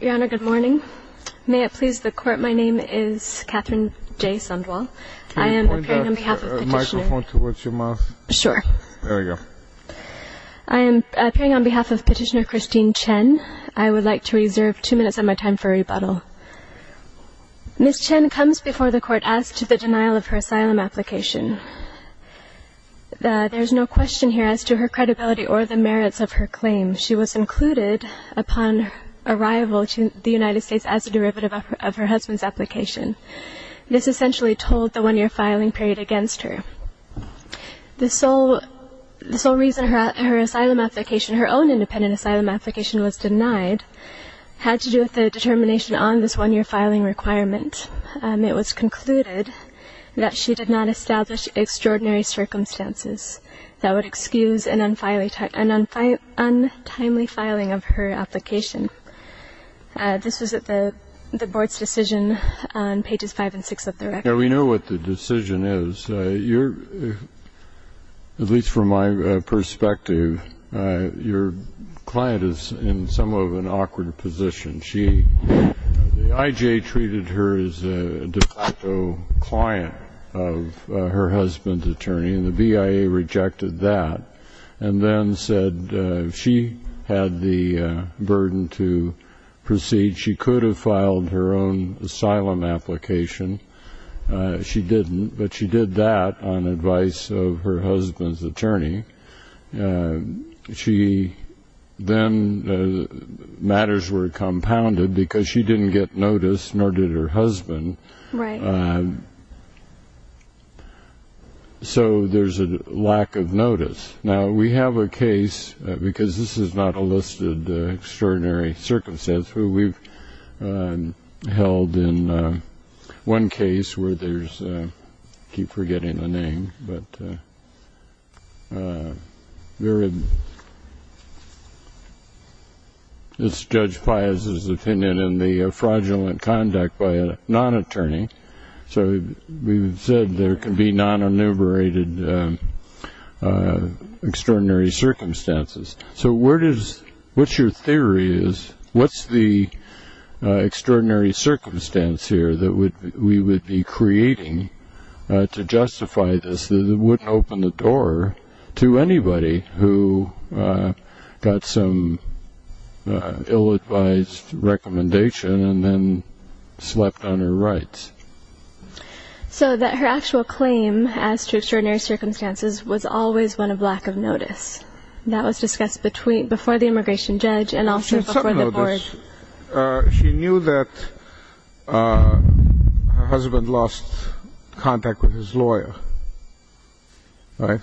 Your Honor, good morning. May it please the Court, my name is Katherine J. Sundwall. I am appearing on behalf of Petitioner Christine Chen. I would like to reserve two minutes of my time for rebuttal. Ms. Chen comes before the Court as to the denial of her asylum application. There is no question here as to her credibility or the merits of her claim. She was included upon arrival to the United States as a derivative of her husband's application. This essentially told the one-year filing period against her. The sole reason her own independent asylum application was denied had to do with the determination on this one-year filing requirement. It was concluded that she did not establish extraordinary circumstances that would excuse an untimely filing of her application. This was at the Board's decision on pages 5 and 6 of the record. We know what the decision is. At least from my perspective, your client is in somewhat of an awkward position. The IJ treated her as a de facto client of her husband's attorney, and the BIA rejected that, and then said she had the burden to proceed. She could have filed her own asylum application. She didn't, but she did that on advice of her husband's attorney. Then matters were compounded because she didn't get notice, nor did her husband, so there's a lack of notice. Now, we have a case, because this is not a listed extraordinary circumstance, but we've held in one case where there's, I keep forgetting the name, but it's Judge Pius's opinion in the fraudulent conduct by a non-attorney. So we've said there can be non-enumerated extraordinary circumstances. So what your theory is, what's the extraordinary circumstance here that we would be creating to justify this that it wouldn't open the door to anybody who got some ill-advised recommendation and then slept on her rights? So that her actual claim as to extraordinary circumstances was always one of lack of notice. That was discussed before the immigration judge and also before the board. She knew that her husband lost contact with his lawyer, right?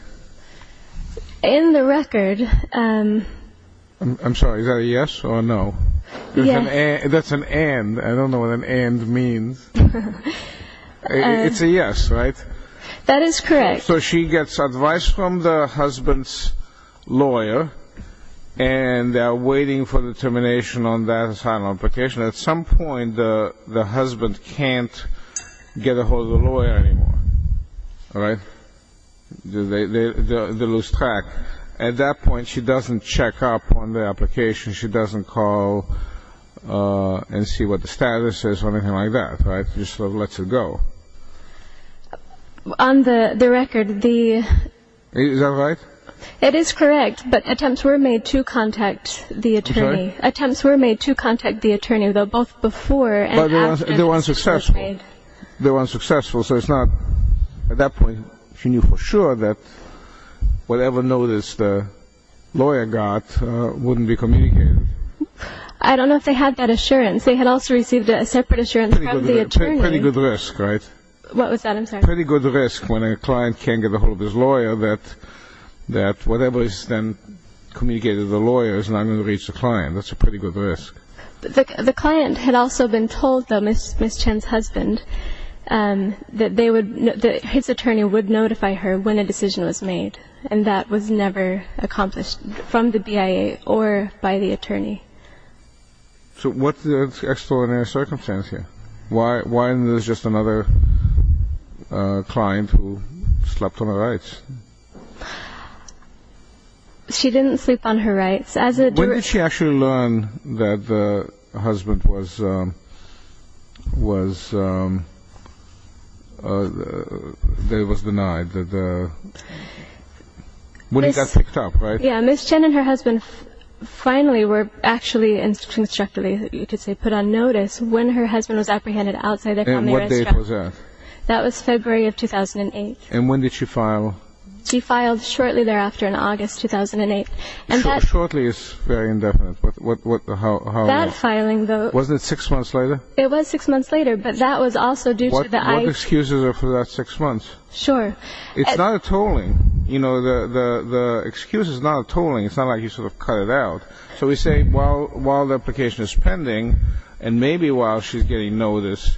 In the record... I'm sorry, is that a yes or a no? Yes. That's an and. I don't know what an and means. It's a yes, right? That is correct. So she gets advice from the husband's lawyer, and they're waiting for determination on that asylum application. At some point, the husband can't get a hold of the lawyer anymore, right? They lose track. At that point, she doesn't check up on the application. She doesn't call and see what the status is or anything like that, right? She just lets it go. On the record, the... Is that right? It is correct, but attempts were made to contact the attorney. I'm sorry? Attempts were made to contact the attorney, though, both before and after... But they weren't successful. They weren't successful, so it's not... At that point, she knew for sure that whatever notice the lawyer got wouldn't be communicated. I don't know if they had that assurance. They had also received a separate assurance from the attorney. That's a pretty good risk, right? What was that? I'm sorry? Pretty good risk when a client can't get a hold of his lawyer, that whatever is then communicated to the lawyer is not going to reach the client. That's a pretty good risk. The client had also been told, though, Ms. Chen's husband, that his attorney would notify her when a decision was made, and that was never accomplished from the BIA or by the attorney. So what's the extraordinary circumstance here? Why isn't this just another client who slept on her rights? She didn't sleep on her rights. When did she actually learn that the husband was denied? When he got picked up, right? Yeah, Ms. Chen and her husband finally were actually instructed, you could say put on notice, when her husband was apprehended outside their company restaurant. And what date was that? That was February of 2008. And when did she file? She filed shortly thereafter in August 2008. Shortly is very indefinite, but how long? That filing, though... Wasn't it six months later? It was six months later, but that was also due to the... What excuses are for that six months? Sure. It's not a tolling. You know, the excuse is not a tolling. It's not like you sort of cut it out. So we say while the application is pending, and maybe while she's getting notice,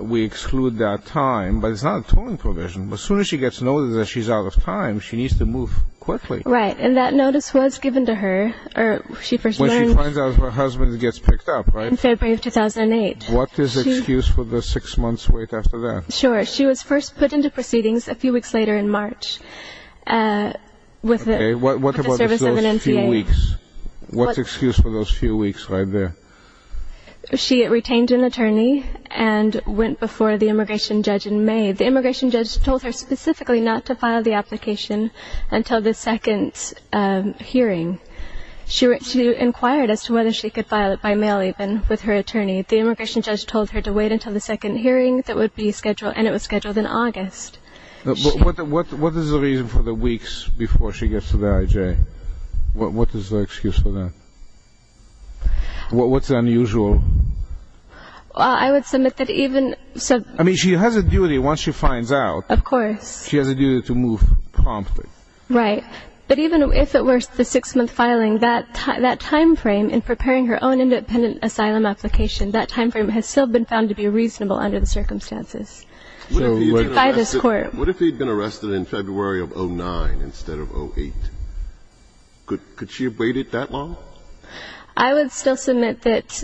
we exclude that time. But it's not a tolling provision. As soon as she gets notice that she's out of time, she needs to move quickly. Right, and that notice was given to her when she first learned... When she finds out her husband gets picked up, right? In February of 2008. What is the excuse for the six months wait after that? Sure. She was first put into proceedings a few weeks later in March with the service of an NPA. Okay, what about those few weeks? What's the excuse for those few weeks right there? She retained an attorney and went before the immigration judge in May. The immigration judge told her specifically not to file the application until the second hearing. She inquired as to whether she could file it by mail even with her attorney. The immigration judge told her to wait until the second hearing, and it was scheduled in August. What is the reason for the weeks before she gets to the IJ? What is the excuse for that? What's unusual? I would submit that even... I mean, she has a duty once she finds out. Of course. She has a duty to move promptly. Right. But even if it were the six-month filing, that timeframe in preparing her own independent asylum application, that timeframe has still been found to be reasonable under the circumstances by this Court. What if he had been arrested in February of 2009 instead of 2008? Could she have waited that long? I would still submit that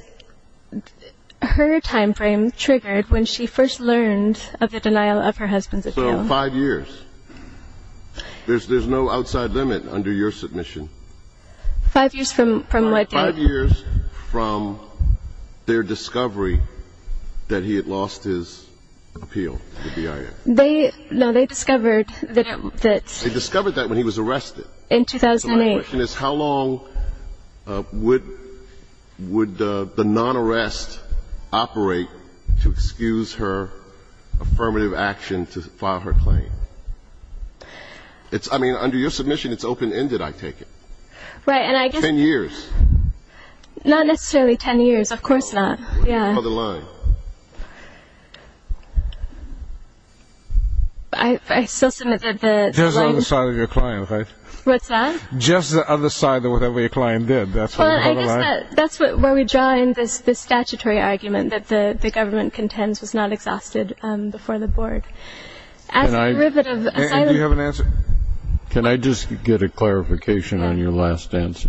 her timeframe triggered when she first learned of the denial of her husband's appeal. So five years. There's no outside limit under your submission. Five years from what, Dan? Five years from their discovery that he had lost his appeal to the BIA. No, they discovered that... They discovered that when he was arrested. In 2008. So my question is how long would the non-arrest operate to excuse her affirmative action to file her claim? I mean, under your submission, it's open-ended, I take it. Right, and I guess... Ten years. Not necessarily ten years. Of course not. Other line. I still submit that the... Just the other side of your client, right? What's that? Just the other side of whatever your client did. I guess that's where we draw in this statutory argument that the government contends was not exhausted before the Board. And do you have an answer? Can I just get a clarification on your last answer?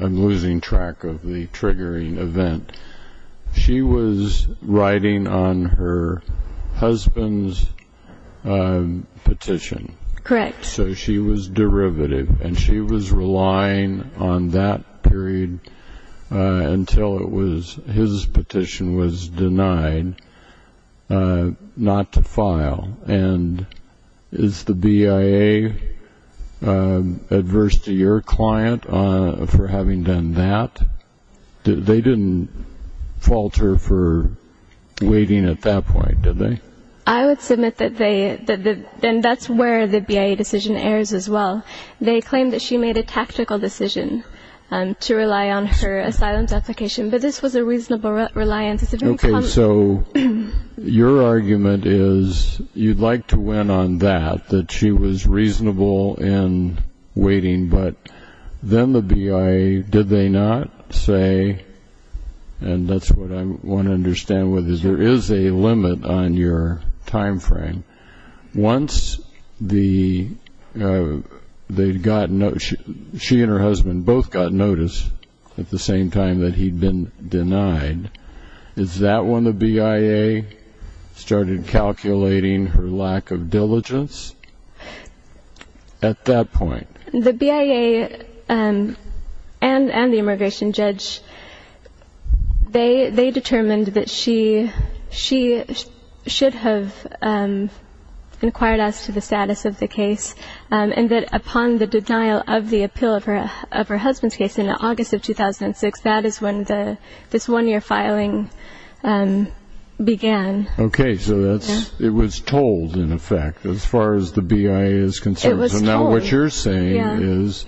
I'm losing track of the triggering event. She was writing on her husband's petition. Correct. So she was derivative, and she was relying on that period until his petition was denied not to file. And is the BIA adverse to your client for having done that? They didn't fault her for waiting at that point, did they? I would submit that they... And that's where the BIA decision errs as well. They claim that she made a tactical decision to rely on her asylum application, but this was a reasonable reliance. Okay, so your argument is you'd like to win on that, that she was reasonable in waiting, but then the BIA, did they not say, and that's what I want to understand with this, there is a limit on your time frame. Once she and her husband both got notice at the same time that he'd been denied, is that when the BIA started calculating her lack of diligence at that point? The BIA and the immigration judge, they determined that she should have inquired us to the status of the case, and that upon the denial of the appeal of her husband's case in August of 2006, that is when this one-year filing began. Okay, so it was told, in effect, as far as the BIA is concerned. It was told. Now, what you're saying is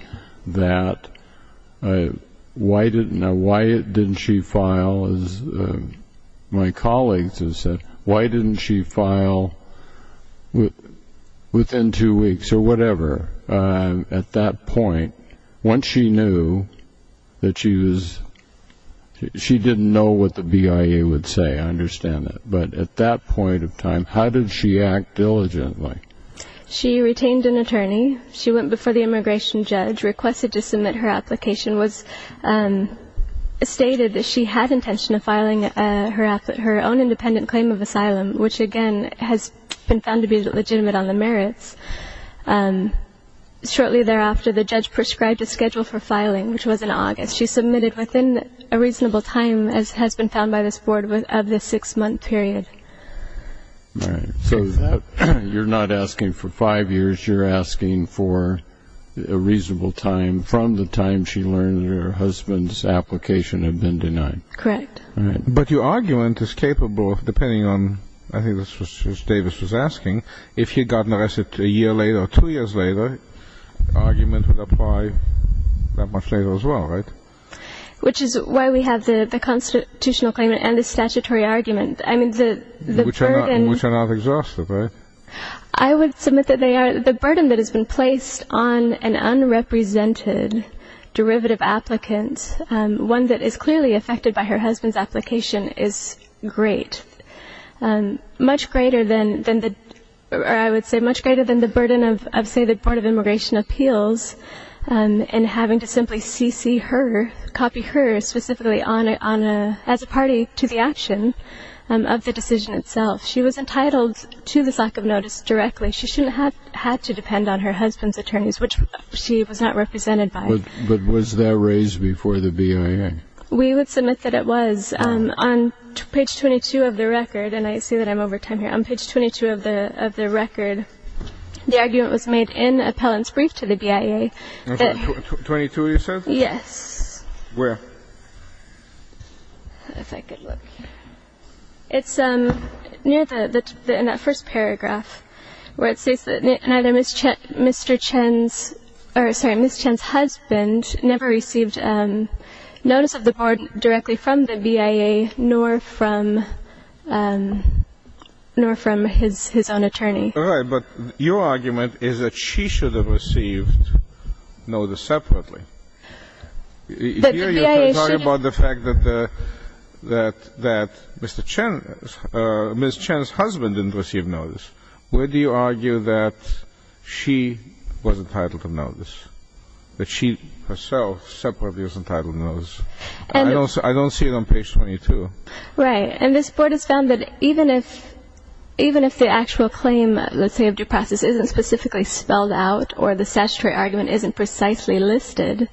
that why didn't she file, as my colleagues have said, why didn't she file within two weeks or whatever at that point, once she knew that she was... She didn't know what the BIA would say, I understand that, but at that point of time, how did she act diligently? She retained an attorney. She went before the immigration judge, requested to submit her application, stated that she had intention of filing her own independent claim of asylum, which, again, has been found to be legitimate on the merits. Shortly thereafter, the judge prescribed a schedule for filing, which was in August. She submitted within a reasonable time, as has been found by this board, of the six-month period. All right. So you're not asking for five years, you're asking for a reasonable time from the time she learned that her husband's application had been denied. Correct. But your argument is capable, depending on, I think this was what Davis was asking, if he had gotten arrested a year later or two years later, the argument would apply that much later as well, right? Which is why we have the constitutional claim and the statutory argument. Which are not exhausted, right? I would submit that they are. The burden that has been placed on an unrepresented derivative applicant, one that is clearly affected by her husband's application, is great. Much greater than, I would say, much greater than the burden of, say, the Board of Immigration Appeals in having to simply cc her, copy her specifically as a party to the action of the decision itself. She was entitled to this lack of notice directly. She shouldn't have had to depend on her husband's attorneys, which she was not represented by. But was that raised before the BIA? We would submit that it was. On page 22 of the record, and I see that I'm over time here, on page 22 of the record, the argument was made in appellant's brief to the BIA. 22, you said? Yes. Where? If I could look. It's near the first paragraph, where it says that neither Mr. Chen's, or sorry, Ms. Chen's husband never received notice of the board directly from the BIA, nor from his own attorney. Right. But your argument is that she should have received notice separately. But the BIA should have. You're talking about the fact that the, that Mr. Chen, Ms. Chen's husband didn't receive notice. Where do you argue that she was entitled to notice, that she herself separately was entitled to notice? I don't see it on page 22. Right. And this board has found that even if, even if the actual claim, let's say, of due process isn't specifically spelled out, or the statutory argument isn't precisely listed,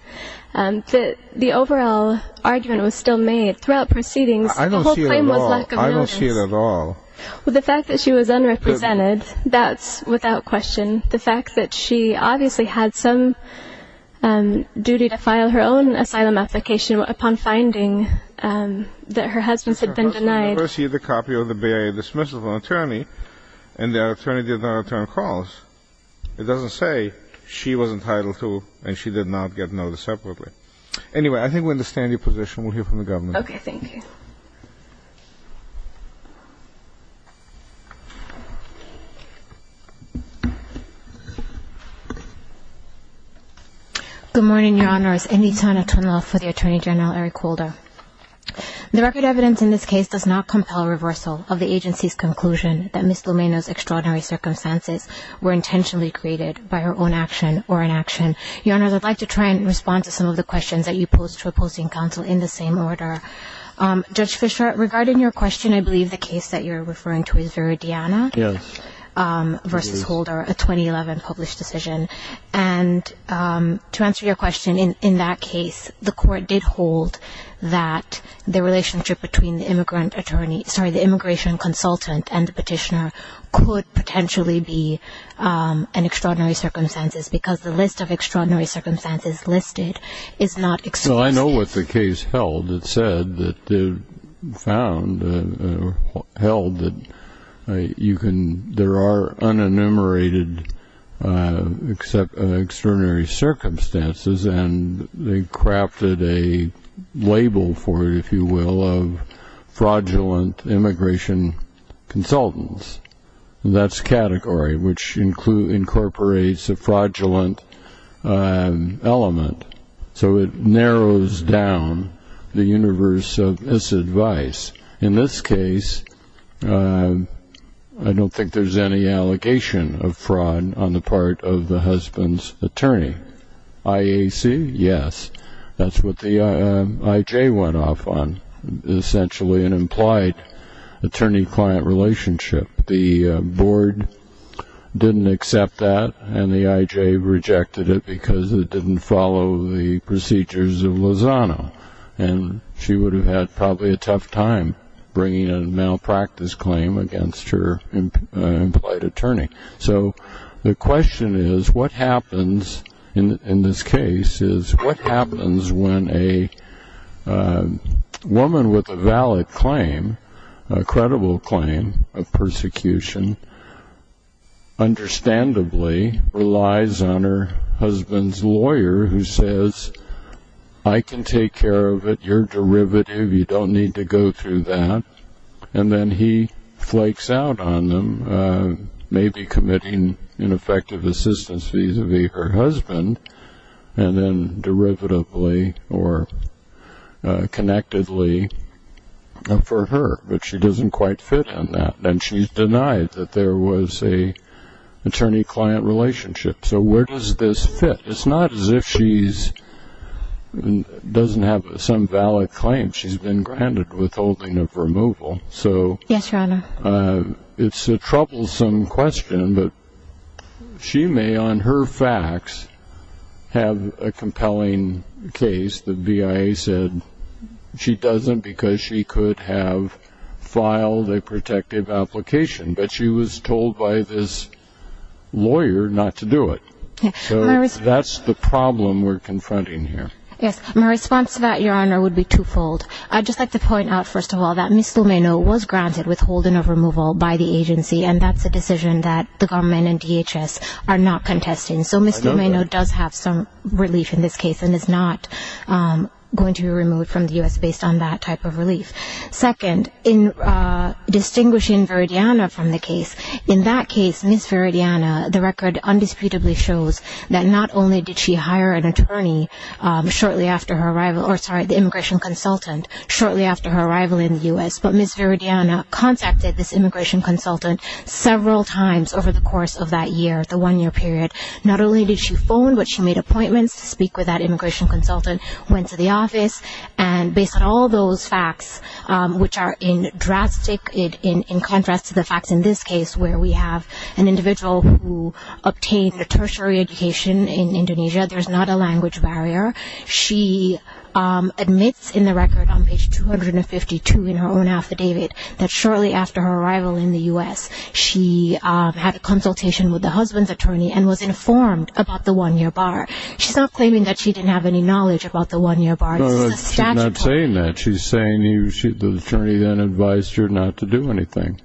that the overall argument was still made throughout proceedings. I don't see it at all. The whole claim was lack of notice. I don't see it at all. Well, the fact that she was unrepresented, that's without question. The fact that she obviously had some duty to file her own asylum application upon finding that her husband had been denied. Because her husband received a copy of the BIA dismissal from an attorney, and the attorney did not return calls. It doesn't say she was entitled to, and she did not get notice separately. Anyway, I think we understand your position. We'll hear from the government. Okay, thank you. Good morning, Your Honors. Indy Tanna, Twin Law for the Attorney General, Eric Holder. The record evidence in this case does not compel reversal of the agency's conclusion that Ms. Lomeno's extraordinary circumstances were intentionally created by her own action or inaction. Your Honors, I'd like to try and respond to some of the questions that you posed to opposing counsel in the same order. Judge Fischer, regarding your question, I believe the case that you're referring to is Veridiana versus Holder, a 2011 case. It's a 2011 published decision. And to answer your question, in that case, the court did hold that the relationship between the immigrant attorney – sorry, the immigration consultant and the petitioner could potentially be an extraordinary circumstances because the list of extraordinary circumstances listed is not explicit. Well, I know what the case held. It said that – found or held that you can – there are unenumerated extraordinary circumstances, and they crafted a label for it, if you will, of fraudulent immigration consultants. That's category, which incorporates a fraudulent element. So it narrows down the universe of this advice. In this case, I don't think there's any allegation of fraud on the part of the husband's attorney. IAC, yes. That's what the IJ went off on, essentially an implied attorney-client relationship. The board didn't accept that, and the IJ rejected it because it didn't follow the procedures of Lozano. And she would have had probably a tough time bringing a malpractice claim against her implied attorney. So the question is what happens in this case is what happens when a woman with a valid claim, a credible claim of persecution, understandably relies on her husband's lawyer who says, I can take care of it. You're derivative. You don't need to go through that. And then he flakes out on them, maybe committing ineffective assistance vis-à-vis her husband, and then derivatively or connectedly for her. But she doesn't quite fit in that, and she's denied that there was an attorney-client relationship. So where does this fit? It's not as if she doesn't have some valid claim. She's been granted withholding of removal. Yes, Your Honor. It's a troublesome question, but she may on her facts have a compelling case. The BIA said she doesn't because she could have filed a protective application, but she was told by this lawyer not to do it. So that's the problem we're confronting here. Yes. My response to that, Your Honor, would be twofold. I'd just like to point out, first of all, that Ms. Lomeno was granted withholding of removal by the agency, and that's a decision that the government and DHS are not contesting. So Ms. Lomeno does have some relief in this case and is not going to be removed from the U.S. based on that type of relief. Second, in distinguishing Veridiana from the case, in that case, Ms. Veridiana, the record undisputably shows that not only did she hire an attorney shortly after her arrival, or sorry, the immigration consultant shortly after her arrival in the U.S., but Ms. Veridiana contacted this immigration consultant several times over the course of that year, the one-year period. Not only did she phone, but she made appointments to speak with that immigration consultant, went to the office, and based on all those facts, which are in drastic, in contrast to the facts in this case, where we have an individual who obtained a tertiary education in Indonesia, there's not a language barrier. She admits in the record on page 252 in her own affidavit that shortly after her arrival in the U.S., she had a consultation with the husband's attorney and was informed about the one-year bar. She's not claiming that she didn't have any knowledge about the one-year bar. She's not saying that. She's saying the attorney then advised her not to do anything.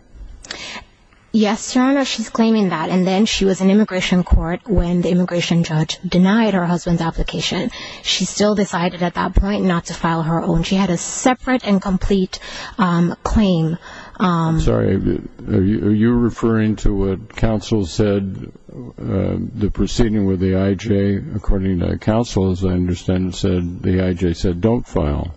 Yes, Your Honor, she's claiming that, and then she was in immigration court when the immigration judge denied her husband's application. She still decided at that point not to file her own. She had a separate and complete claim. I'm sorry. Are you referring to what counsel said, the proceeding with the IJ? According to counsel, as I understand it, the IJ said don't file.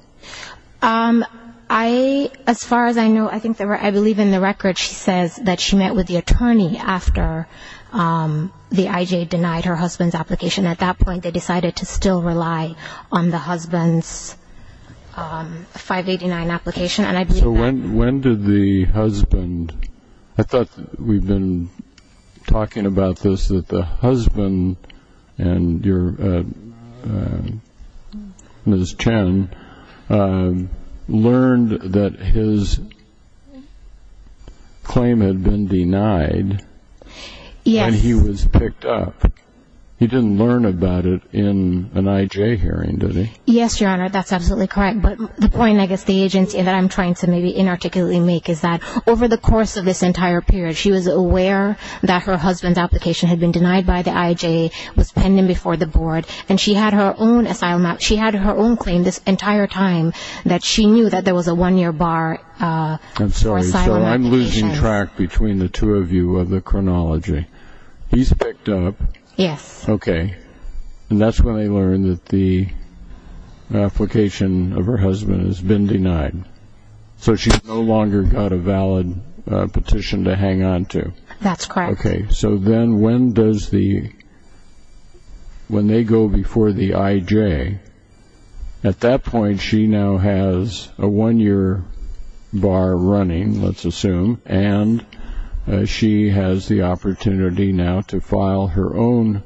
As far as I know, I believe in the record she says that she met with the attorney after the IJ denied her husband's application. At that point, they decided to still rely on the husband's 589 application. So when did the husband? I thought we'd been talking about this, that the husband and your Ms. Chen learned that his claim had been denied. Yes. And he was picked up. He didn't learn about it in an IJ hearing, did he? Yes, Your Honor, that's absolutely correct. But the point, I guess, the agency that I'm trying to maybe inarticulately make is that over the course of this entire period, she was aware that her husband's application had been denied by the IJ, was pending before the board, and she had her own claim this entire time that she knew that there was a one-year bar for asylum applications. I'm sorry. So I'm losing track between the two of you of the chronology. He's picked up. Yes. Okay. And that's when they learned that the application of her husband has been denied. So she's no longer got a valid petition to hang on to. That's correct. Okay. So then when does the – when they go before the IJ, at that point, she now has a one-year bar running, let's assume, and she has the opportunity now to file her own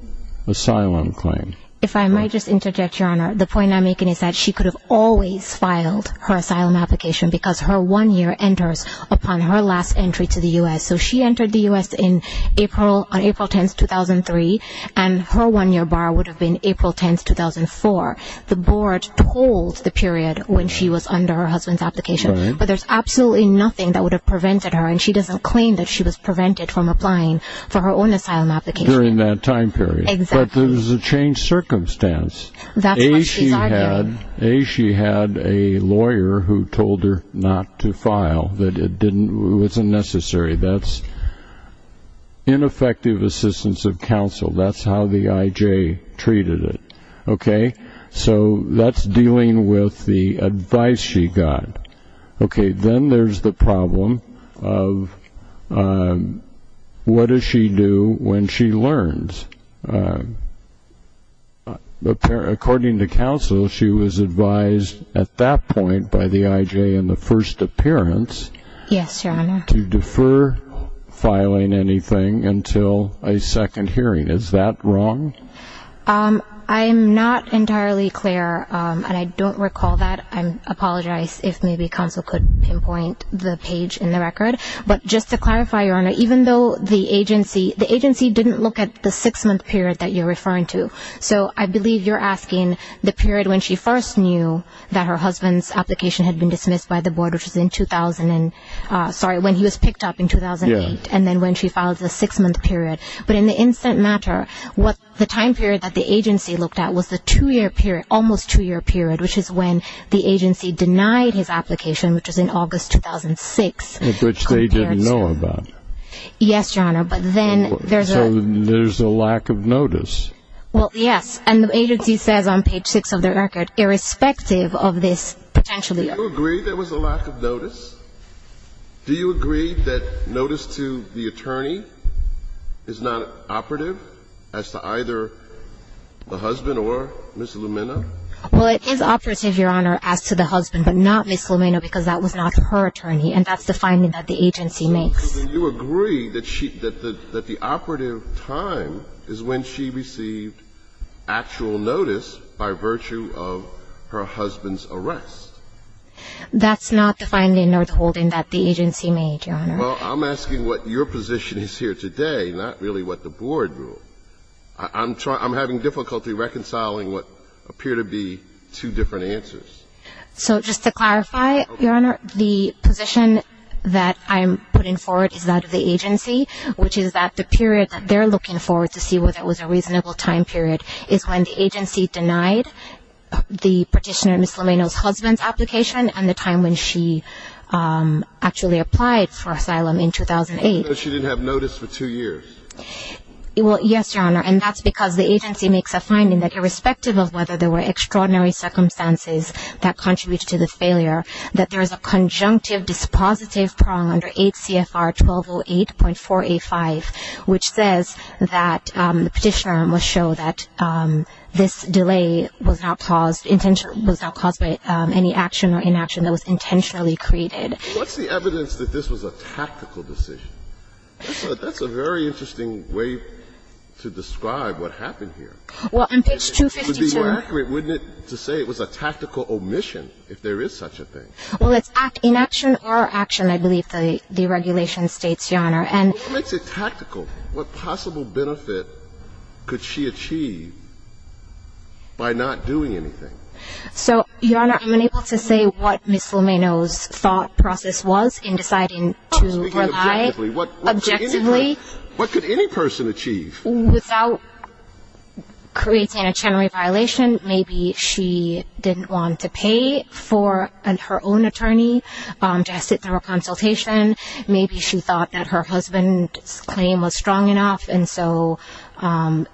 asylum claim. If I might just interject, Your Honor, the point I'm making is that she could have always filed her asylum application because her one-year enters upon her last entry to the U.S. So she entered the U.S. on April 10, 2003, and her one-year bar would have been April 10, 2004. The board told the period when she was under her husband's application, but there's absolutely nothing that would have prevented her, and she doesn't claim that she was prevented from applying for her own asylum application. During that time period. Exactly. But there's a changed circumstance. That's what she's arguing. A, she had a lawyer who told her not to file, that it didn't – it wasn't necessary. That's ineffective assistance of counsel. That's how the IJ treated it. Okay? So that's dealing with the advice she got. Okay, then there's the problem of what does she do when she learns? According to counsel, she was advised at that point by the IJ in the first appearance. Yes, Your Honor. To defer filing anything until a second hearing. Is that wrong? I'm not entirely clear, and I don't recall that. I apologize if maybe counsel could pinpoint the page in the record. But just to clarify, Your Honor, even though the agency – the agency didn't look at the six-month period that you're referring to. So I believe you're asking the period when she first knew that her husband's application had been dismissed by the board, which was in – sorry, when he was picked up in 2008. Yeah. And then when she filed the six-month period. But in the instant matter, the time period that the agency looked at was the two-year period, almost two-year period, which is when the agency denied his application, which was in August 2006. Which they didn't know about. Yes, Your Honor. But then there's a – So there's a lack of notice. Well, yes. And the agency says on page six of the record, irrespective of this potential – Do you agree there was a lack of notice? Do you agree that notice to the attorney is not operative as to either the husband or Ms. Lumina? Well, it is operative, Your Honor, as to the husband, but not Ms. Lumina because that was not her attorney, and that's the finding that the agency makes. So do you agree that she – that the operative time is when she received actual notice by virtue of her husband's arrest? That's not the finding or the holding that the agency made, Your Honor. Well, I'm asking what your position is here today, not really what the board ruled. I'm having difficulty reconciling what appear to be two different answers. So just to clarify, Your Honor, the position that I'm putting forward is that of the agency, which is that the period that they're looking forward to see whether it was a reasonable time period is when the agency denied the petitioner, Ms. Lumina's husband's application and the time when she actually applied for asylum in 2008. So she didn't have notice for two years? Well, yes, Your Honor, and that's because the agency makes a finding that irrespective of whether there were extraordinary circumstances that contributed to the failure, that there is a conjunctive dispositive prong under 8 CFR 1208.485, which says that the petitioner will show that this delay was not caused – was not caused by any action or inaction that was intentionally created. What's the evidence that this was a tactical decision? That's a very interesting way to describe what happened here. Well, on page 252 – It would be more accurate, wouldn't it, to say it was a tactical omission if there is such a thing? Well, it's inaction or action, I believe the regulation states, Your Honor, and – Well, what makes it tactical? What possible benefit could she achieve by not doing anything? So, Your Honor, I'm unable to say what Ms. Lumina's thought process was in deciding to rely – I'm speaking objectively. Objectively. What could any person achieve? Without creating a general violation, maybe she didn't want to pay for her own attorney to sit through a consultation. Maybe she thought that her husband's claim was strong enough, and so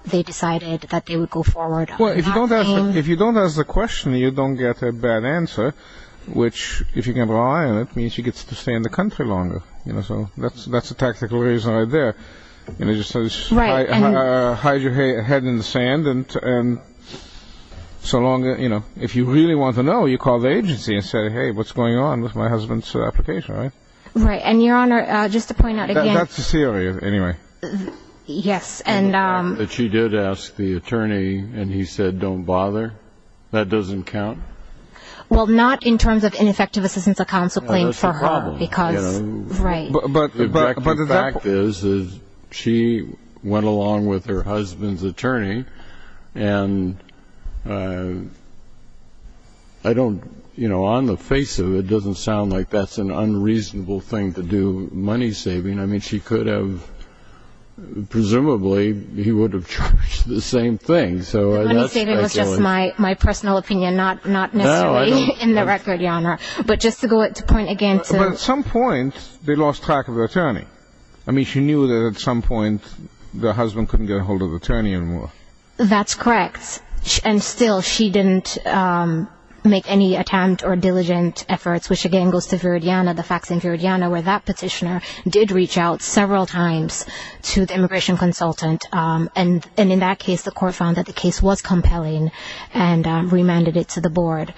they decided that they would go forward. Well, if you don't ask the question, you don't get a bad answer, which, if you can rely on it, means she gets to stay in the country longer. So that's a tactical reason right there. Right. Hide your head in the sand, and so long – if you really want to know, you call the agency and say, hey, what's going on with my husband's application, right? Right. And, Your Honor, just to point out again – That's the theory, anyway. Yes. And – But she did ask the attorney, and he said, don't bother? That doesn't count? Well, not in terms of ineffective assistance of counsel claim for her, because – That's the problem. Right. The fact is, is she went along with her husband's attorney, and I don't – you know, on the face of it, it doesn't sound like that's an unreasonable thing to do, money saving. I mean, she could have – presumably, he would have charged the same thing. The money saving was just my personal opinion, not necessarily in the record, Your Honor. But just to point again to – But at some point, they lost track of the attorney. I mean, she knew that at some point, the husband couldn't get a hold of the attorney anymore. That's correct. And still, she didn't make any attempt or diligent efforts, which again goes to Viridiana, the facts in Viridiana, where that petitioner did reach out several times to the immigration consultant, and in that case, the court found that the case was compelling and remanded it to the board.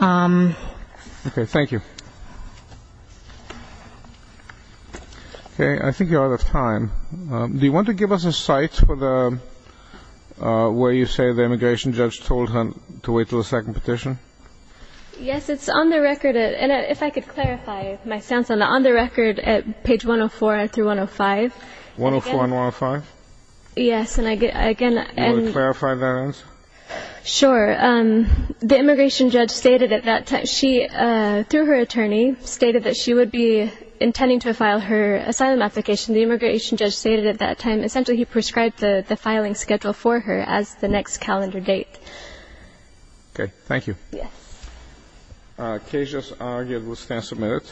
Okay. Thank you. Okay. I think you're out of time. Do you want to give us a site where you say the immigration judge told her to wait till the second petition? Yes. It's on the record. And if I could clarify my stance on that, on the record at page 104 through 105. 104 and 105? Yes. And again – Can you clarify that answer? Sure. The immigration judge stated at that time – she, through her attorney, stated that she would be intending to file her asylum application. The immigration judge stated at that time, essentially, he prescribed the filing schedule for her as the next calendar date. Okay. Thank you. Yes. Case just argued. We'll stand submitted.